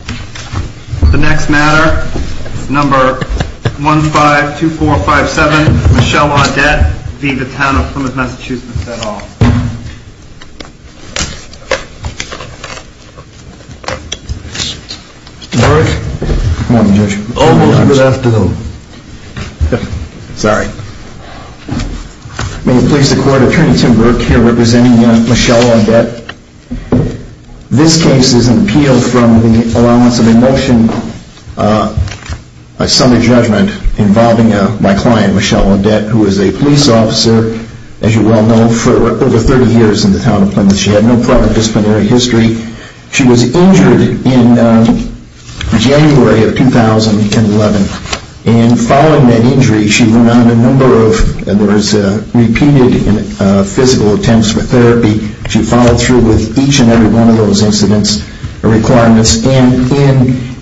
The next matter, number 152457, Michelle Audette v. Plymouth, MA Good morning, Judge. Oh, good afternoon. Sorry. May it please the Court, Attorney Tim Burke here representing Michelle Audette. This case is an appeal from the Allowance of a Motion, a summary judgment involving my client, Michelle Audette, who is a police officer, as you well know, for over 30 years in the town of Plymouth. She had no prior disciplinary history. She was injured in January of 2011. And following that injury, she went on a number of, there was repeated physical attempts for therapy. She followed through with each and every one of those incidents and requirements. And in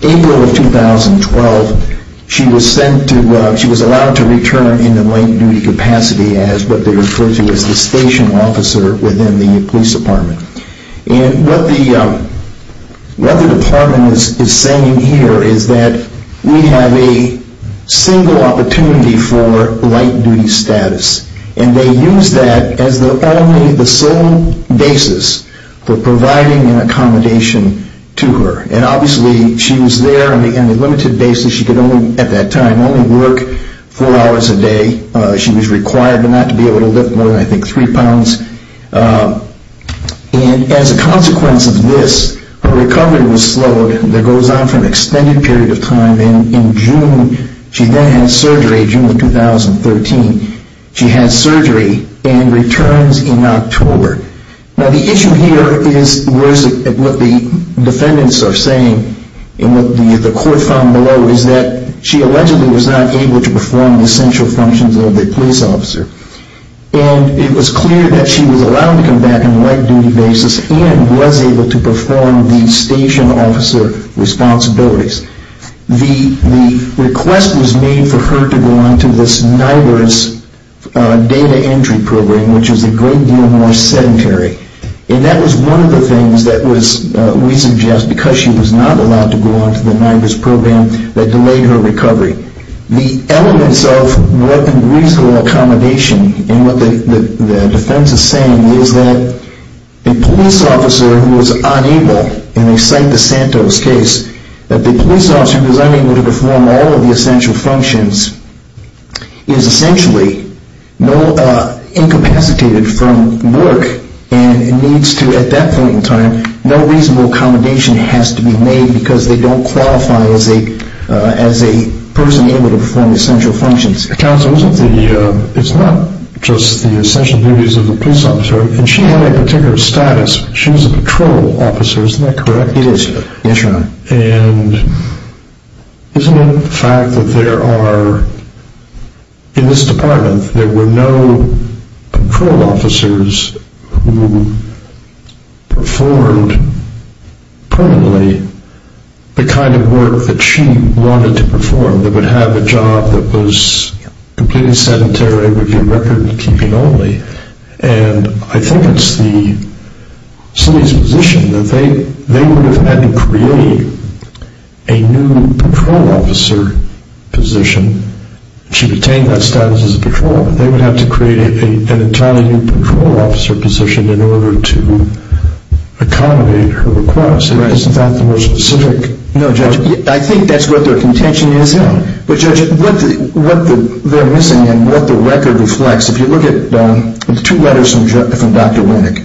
April of 2012, she was sent to, she was allowed to return in the light-duty capacity as what they refer to as the station officer within the police department. And what the department is saying here is that we have a single opportunity for light-duty status. And they use that as their only, the sole basis for providing an accommodation to her. And obviously, she was there on a limited basis. She could only, at that time, only work four hours a day. She was required not to be able to lift more than, I think, three pounds. And as a consequence of this, her recovery was slowed. That goes on for an extended period of time. And in June, she then had surgery, June of 2013. She had surgery and returns in October. Now the issue here is, what the defendants are saying, and what the court found below, is that she allegedly was not able to perform the essential functions of the police officer. And it was clear that she was allowed to come back on a light-duty basis and was able to perform the station officer responsibilities. The request was made for her to go on to this NIDILRRS data entry program, which is a great deal more sedentary. And that was one of the things that we suggest, because she was not allowed to go on to the NIDILRRS program, that delayed her recovery. The elements of reasonable accommodation, and what the defense is saying, is that a police officer who is unable, and they cite the Santos case, that the police officer who is unable to perform all of the essential functions is essentially incapacitated from work. And it needs to, at that point in time, no reasonable accommodation has to be made, because they don't qualify as a person able to perform the essential functions. Counsel, it's not just the essential duties of the police officer, and she had a particular status. She was a patrol officer, isn't that correct? It is, yes, Your Honor. And isn't it a fact that there are, in this department, there were no patrol officers who performed permanently the kind of work that she wanted to perform, that would have a job that was completely sedentary, would be record-keeping only. And I think it's the city's position that they would have had to create a new patrol officer position. She retained that status as a patrol. They would have to create an entirely new patrol officer position in order to accommodate her requests. Isn't that the most specific? No, Judge. I think that's what their contention is. But, Judge, what they're missing and what the record reflects, if you look at the two letters from Dr. Winnick,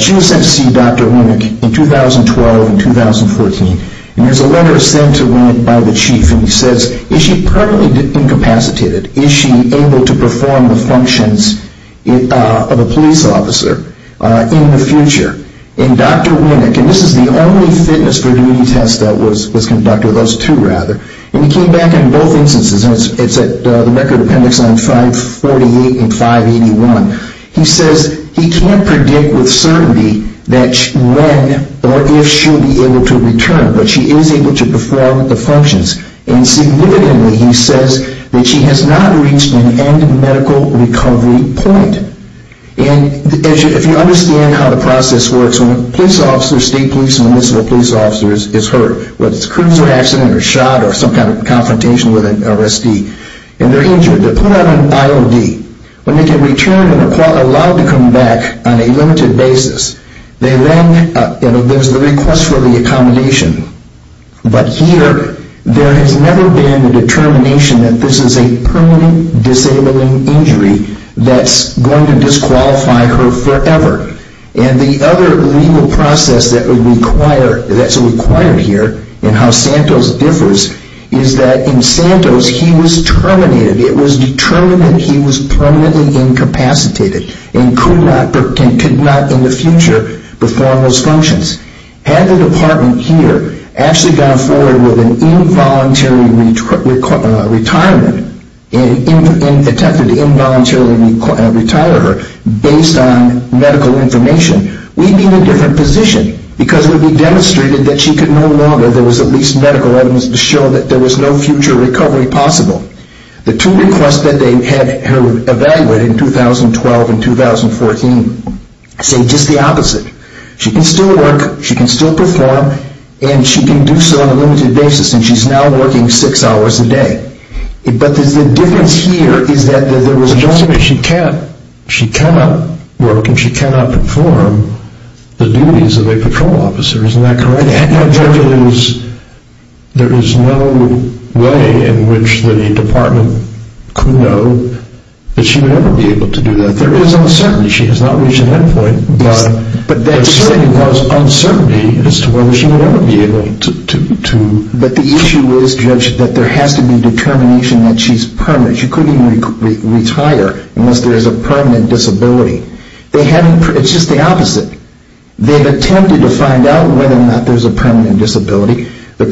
she was sent to see Dr. Winnick in 2012 and 2014, and there's a letter sent to Winnick by the chief, and he says, is she permanently incapacitated? Is she able to perform the functions of a police officer in the future? And Dr. Winnick, and this is the only fitness for duty test that was conducted, or those two rather, and he came back in both instances, and it's at the record appendix on 548 and 581, he says he can't predict with certainty that when or if she'll be able to return, but she is able to perform the functions. And significantly, he says that she has not reached an end medical recovery point. And if you understand how the process works, when a police officer, state police and municipal police officer is hurt, whether it's a cruiser accident or shot or some kind of confrontation with an arrestee, and they're injured, they're put on an IOD. When they get returned and are allowed to come back on a limited basis, there's the request for the accommodation, but here there has never been the determination that this is a permanent disabling injury that's going to disqualify her forever. And the other legal process that's required here, and how Santos differs, is that in Santos he was terminated. It was determined that he was permanently incapacitated and could not in the future perform those functions. Had the department here actually gone forward with an involuntary retirement and attempted to involuntarily retire her based on medical information, we'd be in a different position, because it would be demonstrated that she could no longer, there was at least medical evidence to show that there was no future recovery possible. The two requests that they had her evaluated in 2012 and 2014 say just the opposite. She can still work, she can still perform, and she can do so on a limited basis, and she's now working six hours a day. But the difference here is that there was no... She cannot work and she cannot perform the duties of a patrol officer. Isn't that correct? There is no way in which the department could know that she would ever be able to do that. There is uncertainty. She has not reached an end point, but there certainly was uncertainty as to whether she would ever be able to... But the issue is, Judge, that there has to be determination that she's permanent. She couldn't retire unless there is a permanent disability. It's just the opposite. They've attempted to find out whether or not there's a permanent disability. The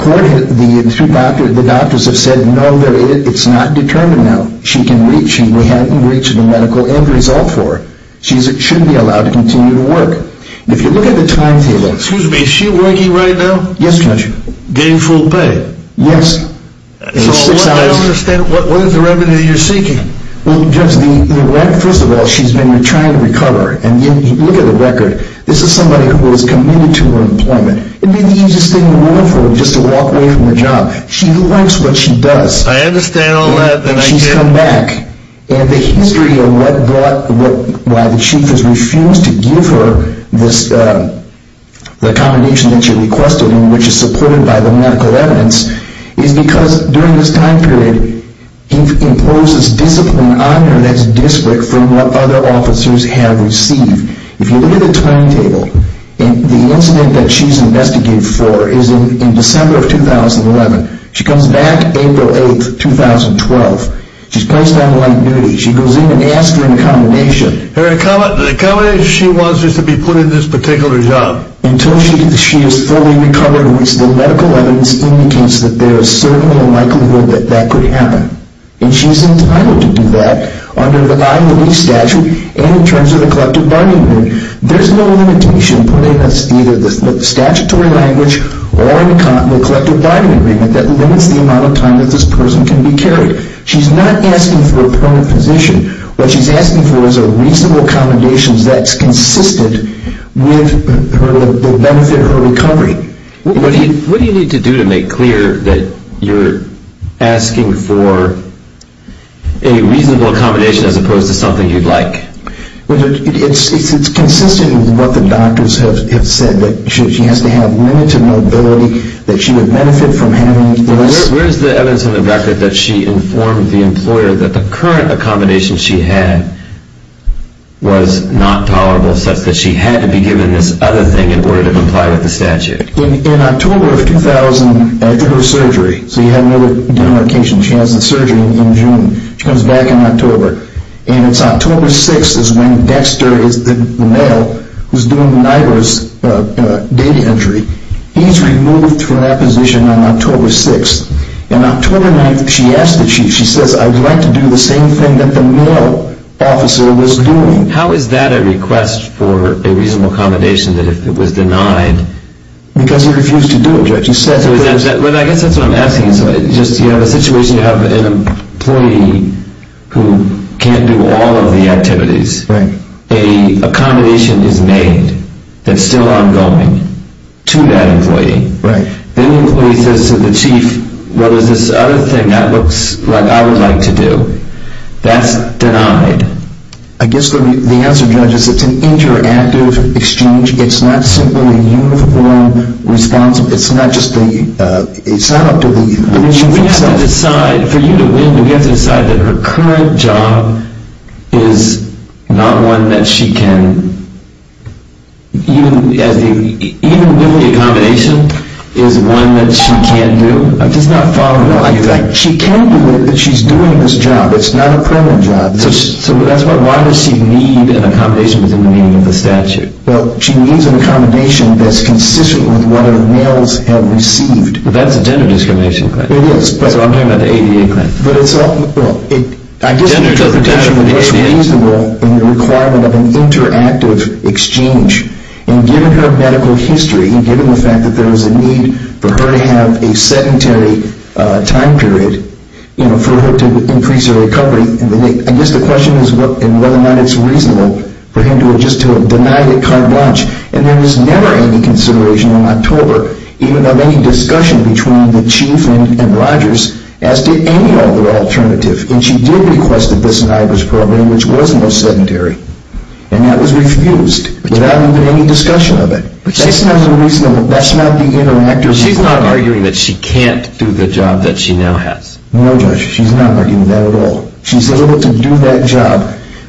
doctors have said, no, it's not determined now. She can reach, and we haven't reached a medical end result for her. She should be allowed to continue to work. If you look at the timetable... Excuse me, is she working right now? Yes, Judge. Getting full pay? Yes. So I don't understand, what is the revenue you're seeking? Well, Judge, first of all, she's been trying to recover. And look at the record. This is somebody who was committed to her employment. It would be the easiest thing in the world for her just to walk away from the job. She likes what she does. I understand all that. And she's come back. And the history of why the Chief has refused to give her the accommodation that she requested and which is supported by the medical evidence is because, during this time period, he's imposed this discipline on her that's different from what other officers have received. If you look at the timetable, the incident that she's investigated for is in December of 2011. She comes back April 8, 2012. She's placed on light duty. She goes in and asks for an accommodation. The accommodation she wants is to be put in this particular job. Now, until she is fully recovered, which the medical evidence indicates that there is certainly a likelihood that that could happen, and she's entitled to do that under the eye and the leaf statute and in terms of the collective bargaining agreement, there's no limitation put in either the statutory language or the collective bargaining agreement that limits the amount of time that this person can be carried. She's not asking for a permanent position. What she's asking for is a reasonable accommodation that's consistent with the benefit of her recovery. What do you need to do to make clear that you're asking for a reasonable accommodation as opposed to something you'd like? It's consistent with what the doctors have said, that she has to have limited mobility, that she would benefit from having this. Where is the evidence in the record that she informed the employer that the current accommodation she had was not tolerable, such that she had to be given this other thing in order to comply with the statute? In October of 2000, after her surgery, so you have another denotation, she has the surgery in June. She comes back in October. And it's October 6 is when Dexter, the male, who's doing NIDILRR's daily entry, he's removed from that position on October 6th. And October 9th, she asks the chief, she says, I would like to do the same thing that the male officer was doing. How is that a request for a reasonable accommodation, that if it was denied? Because he refused to do it, Judge. I guess that's what I'm asking. You have a situation, you have an employee who can't do all of the activities. Right. An accommodation is made that's still ongoing to that employee. Right. Then the employee says to the chief, well, there's this other thing that looks like I would like to do. That's denied. I guess the answer, Judge, is it's an interactive exchange. It's not simply uniform response. It's not up to the chief himself. I mean, we have to decide, for you to win, we have to decide that her current job is not one that she can, even with the accommodation, is one that she can't do? I'm just not following what you're saying. She can't do it if she's doing this job. It's not a permanent job. So why does she need an accommodation within the meaning of the statute? Well, she needs an accommodation that's consistent with what her males have received. That's a gender discrimination claim. It is. So I'm talking about the ADA claim. But it's all ñ well, I guess your interpretation would be it's reasonable in the requirement of an interactive exchange. And given her medical history, and given the fact that there was a need for her to have a sedentary time period, you know, for her to increase her recovery, I guess the question is whether or not it's reasonable for him to have just denied it carte blanche. And there was never any consideration in October, even of any discussion between the chief and Rogers, as did any other alternative. And she did request the Bissonnibus program, which was no sedentary. And that was refused without even any discussion of it. But that's not the reasonable ñ that's not the interactive ñ But she's not arguing that she can't do the job that she now has. No, Judge, she's not arguing that at all. She's able to do that job,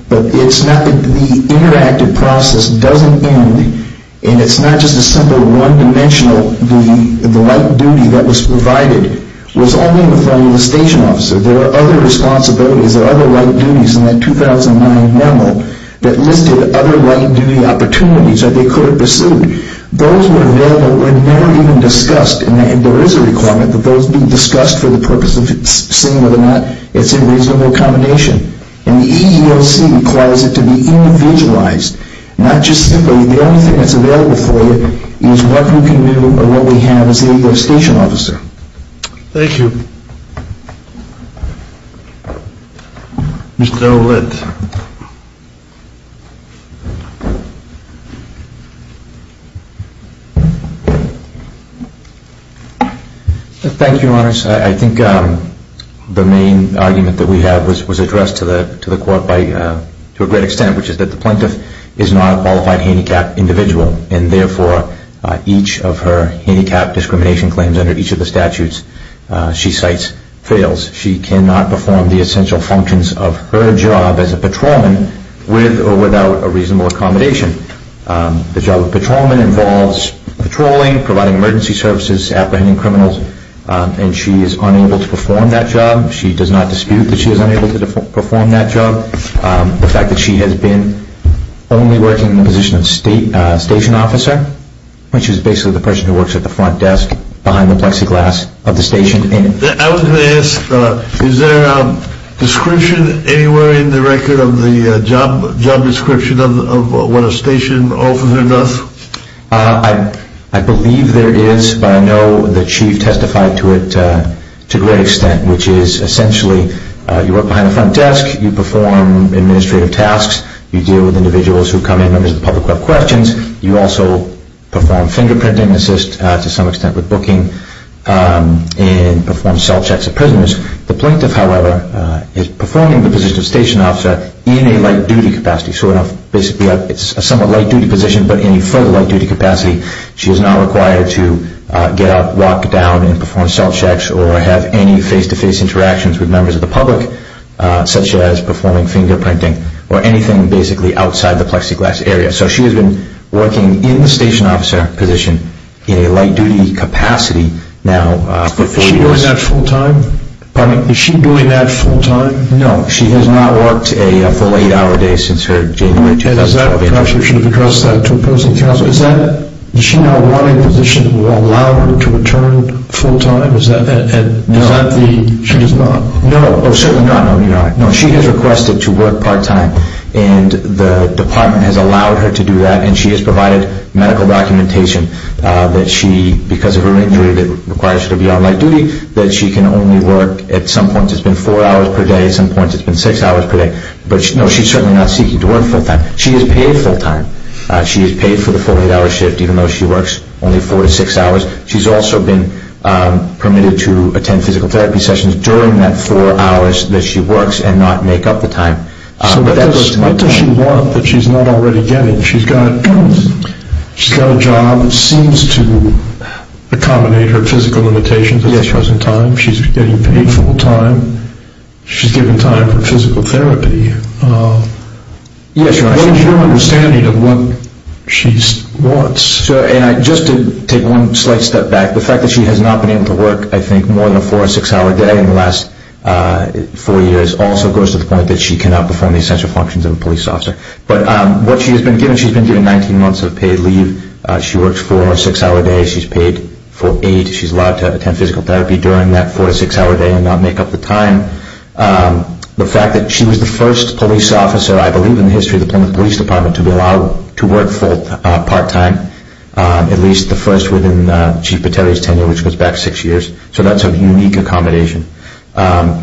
but it's not that the interactive process doesn't end, and it's not just a simple one-dimensional duty. The light duty that was provided was only in the form of the station officer. There were other responsibilities. There were other light duties in that 2009 memo that listed other light duty opportunities that they could have pursued. Those were never even discussed, and there is a requirement that those be discussed for the purpose of seeing whether or not it's a reasonable combination. And the EEOC requires it to be individualized, not just simply the only thing that's available for you is what you can do or what we have as a station officer. Thank you. Mr. Ouellette. Thank you, Your Honors. I think the main argument that we have was addressed to the court by ñ which is that the plaintiff is not a qualified handicapped individual, and therefore each of her handicapped discrimination claims under each of the statutes she cites fails. She cannot perform the essential functions of her job as a patrolman with or without a reasonable accommodation. The job of patrolman involves patrolling, providing emergency services, apprehending criminals, and she is unable to perform that job. She does not dispute that she is unable to perform that job. The fact that she has been only working in the position of station officer, which is basically the person who works at the front desk behind the plexiglass of the station. I was going to ask, is there a description anywhere in the record of the job description of what a station officer does? I believe there is, but I know the Chief testified to it to a great extent, which is essentially you work behind the front desk, you perform administrative tasks, you deal with individuals who come in, members of the public who have questions, you also perform fingerprinting, assist to some extent with booking, and perform self-checks of prisoners. The plaintiff, however, is performing the position of station officer in a light-duty capacity. So basically it's a somewhat light-duty position, but in a further light-duty capacity. She is not required to get up, walk down, and perform self-checks or have any face-to-face interactions with members of the public, such as performing fingerprinting, or anything basically outside the plexiglass area. So she has been working in the station officer position in a light-duty capacity now for four years. Is she doing that full-time? No, she has not worked a full eight-hour day since her January 2012 interview. And is that because she would have addressed that to a person else? Does she now want a position that would allow her to return full-time? No, she does not. No, certainly not. No, she has requested to work part-time, and the department has allowed her to do that, and she has provided medical documentation that she, because of her injury that requires her to be on light-duty, that she can only work, at some points it's been four hours per day, at some points it's been six hours per day. But no, she's certainly not seeking to work full-time. She is paid full-time. She is paid for the full eight-hour shift, even though she works only four to six hours. She's also been permitted to attend physical therapy sessions during that four hours that she works and not make up the time. So what does she want that she's not already getting? She's got a job that seems to accommodate her physical limitations at the present time. She's getting paid full-time. She's given time for physical therapy. What is your understanding of what she wants? Just to take one slight step back, the fact that she has not been able to work, I think, more than a four- or six-hour day in the last four years also goes to the point that she cannot perform the essential functions of a police officer. But what she has been given, she's been given 19 months of paid leave. She works four- or six-hour days. She's paid for eight. She's allowed to attend physical therapy during that four- or six-hour day and not make up the time. The fact that she was the first police officer, I believe in the history of the Plymouth Police Department, to be allowed to work part-time, at least the first within Chief Pateri's tenure, which goes back six years. So that's a unique accommodation.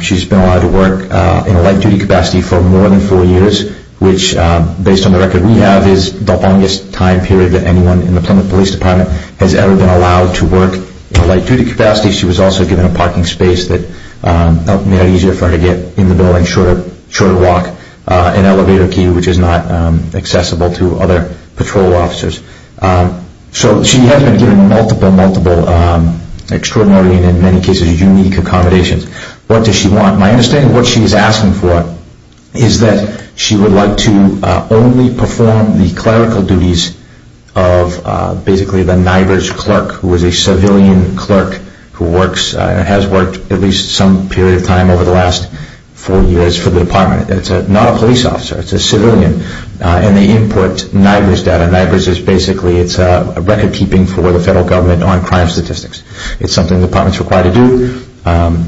She's been allowed to work in a light-duty capacity for more than four years, which, based on the record we have, is the longest time period that anyone in the Plymouth Police Department has ever been allowed to work in a light-duty capacity. She was also given a parking space that made it easier for her to get in the building, shorter walk, an elevator key, which is not accessible to other patrol officers. So she has been given multiple, multiple extraordinary and, in many cases, unique accommodations. What does she want? My understanding of what she's asking for is that she would like to only perform the clerical duties of, basically, the NIBRS clerk, who is a civilian clerk who has worked at least some period of time over the last four years for the department. It's not a police officer, it's a civilian, and they input NIBRS data. NIBRS is basically record-keeping for the federal government on crime statistics. It's something the department is required to do.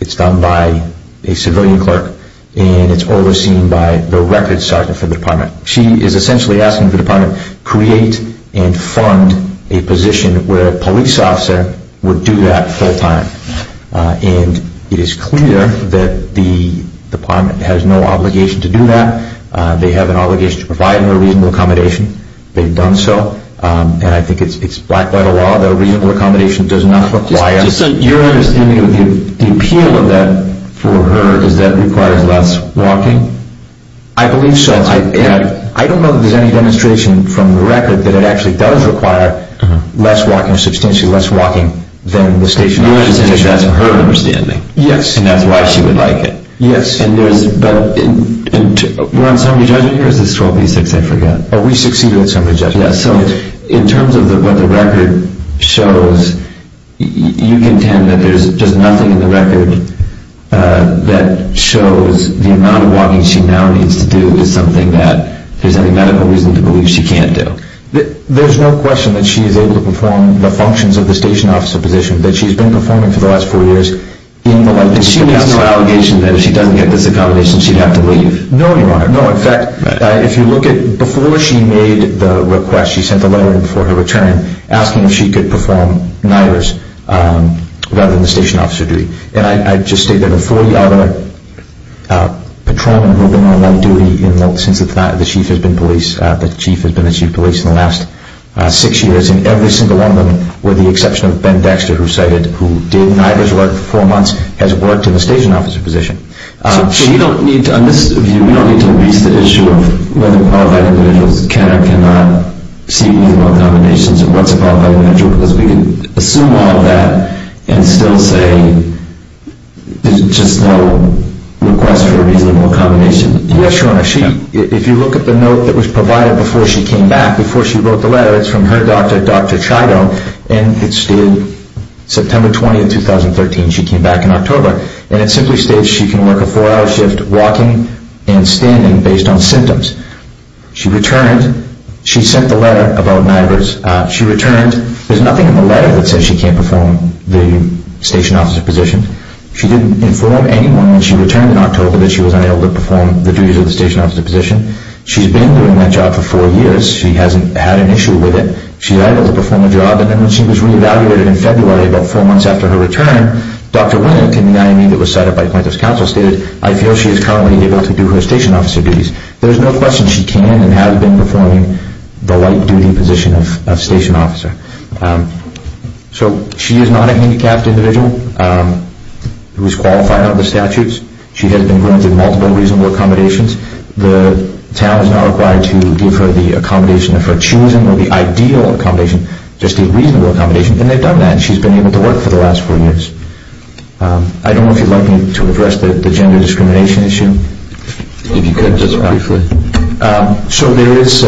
It's done by a civilian clerk, and it's overseen by the records sergeant for the department. She is essentially asking the department to create and fund a position where a police officer would do that full-time. And it is clear that the department has no obligation to do that. They have an obligation to provide a reasonable accommodation. They've done so, and I think it's blacked by the law that a reasonable accommodation does not require... So your understanding of the appeal of that for her is that it requires less walking? I believe so. I don't know that there's any demonstration from the record that it actually does require less walking, substantially less walking, than the stationary walking. You understand that's her understanding. Yes. And that's why she would like it. Yes. And there's... We're on summary judgment here, or is this 12B6? I forget. Oh, we succeed with summary judgment. So in terms of what the record shows, you contend that there's just nothing in the record that shows the amount of walking she now needs to do is something that there's any medical reason to believe she can't do? There's no question that she's able to perform the functions of the station officer position that she's been performing for the last four years... And she makes no allegation that if she doesn't get this accommodation, she'd have to leave? No, Your Honor. No, in fact, if you look at... Before she made the request, she sent a letter in for her return asking if she could perform NIDRRS rather than the station officer duty. And I just stated that the 40 other patrolmen who have been on that duty since the chief has been police, the chief has been the chief of police in the last six years, and every single one of them, with the exception of Ben Dexter, who did NIDRRS work for four months, has worked in the station officer position. So you don't need to... On this view, we don't need to raise the issue of whether qualified individuals can or cannot see reasonable accommodations and what's a qualified individual, because we can assume all of that and still say there's just no request for a reasonable accommodation. Yes, Your Honor. If you look at the note that was provided before she came back, before she wrote the letter, it's from her doctor, Dr. Chido, and it stated September 20, 2013. She came back in October. And it simply states she can work a four-hour shift walking and standing based on symptoms. She returned. She sent the letter about NIDRRS. She returned. There's nothing in the letter that says she can't perform the station officer position. She didn't inform anyone when she returned in October that she was unable to perform the duties of the station officer position. She's been doing that job for four years. She hasn't had an issue with it. She's able to perform the job. And then when she was reevaluated in February about four months after her return, Dr. Willink in the IME that was set up by Plaintiff's Counsel stated, I feel she is currently able to do her station officer duties. There's no question she can and has been performing the light duty position of station officer. So she is not a handicapped individual who is qualified under the statutes. She has been granted multiple reasonable accommodations. The town is not required to give her the accommodation of her choosing or the ideal accommodation, just a reasonable accommodation, and they've done that. She's been able to work for the last four years. I don't know if you'd like me to address the gender discrimination issue. If you could just briefly. So there is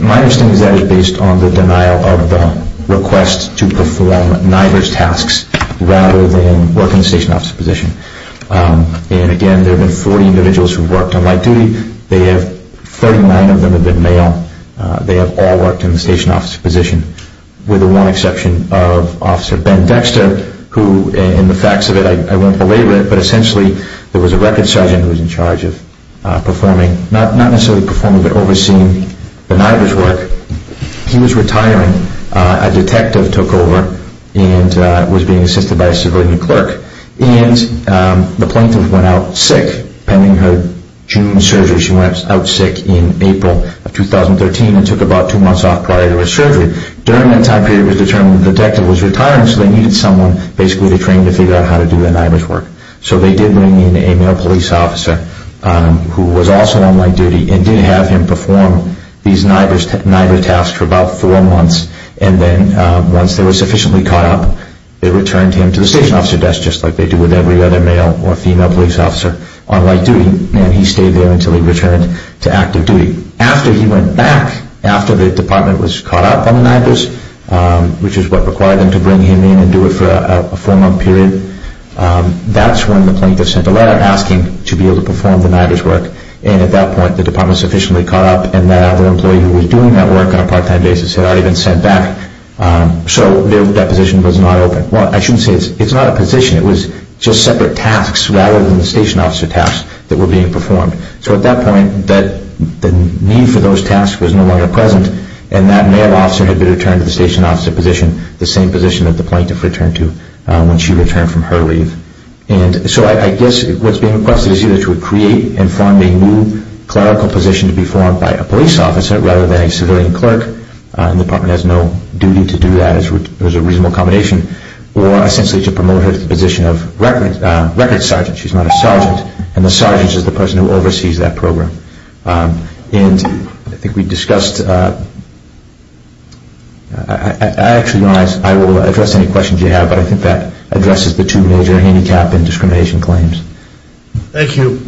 my understanding is that it's based on the denial of the request to perform NIDRRS tasks rather than working the station officer position. And again, there have been 40 individuals who have worked on light duty. Thirty-nine of them have been male. They have all worked in the station officer position with the one exception of Officer Ben Dexter, who in the facts of it, I won't belabor it, but essentially there was a records sergeant who was in charge of performing, not necessarily performing, but overseeing the NIDRRS work. He was retiring. A detective took over and was being assisted by a civilian clerk. And the plaintiff went out sick pending her June surgery. She went out sick in April of 2013 and took about two months off prior to her surgery. During that time period, it was determined the detective was retiring, so they needed someone basically to train to figure out how to do the NIDRRS work. So they did bring in a male police officer who was also on light duty and did have him perform these NIDRRS tasks for about four months. And then once they were sufficiently caught up, they returned him to the station officer desk, just like they do with every other male or female police officer on light duty. And he stayed there until he returned to active duty. After he went back, after the department was caught up on the NIDRRS, which is what required them to bring him in and do it for a four-month period, that's when the plaintiff sent a letter asking to be able to perform the NIDRRS work. And at that point, the department was sufficiently caught up and that other employee who was doing that work on a part-time basis had already been sent back. So that position was not open. Well, I shouldn't say it's not a position. It was just separate tasks rather than the station officer tasks that were being performed. So at that point, the need for those tasks was no longer present, and that male officer had been returned to the station officer position, the same position that the plaintiff returned to when she returned from her leave. And so I guess what's being requested is either to create and form a new clerical position to be formed by a police officer rather than a civilian clerk, and the department has no duty to do that. It was a reasonable combination. Or essentially to promote her to the position of record sergeant. She's not a sergeant, and the sergeant is the person who oversees that program. And I think we discussed – actually, I will address any questions you have, but I think that addresses the two major handicap and discrimination claims. Thank you.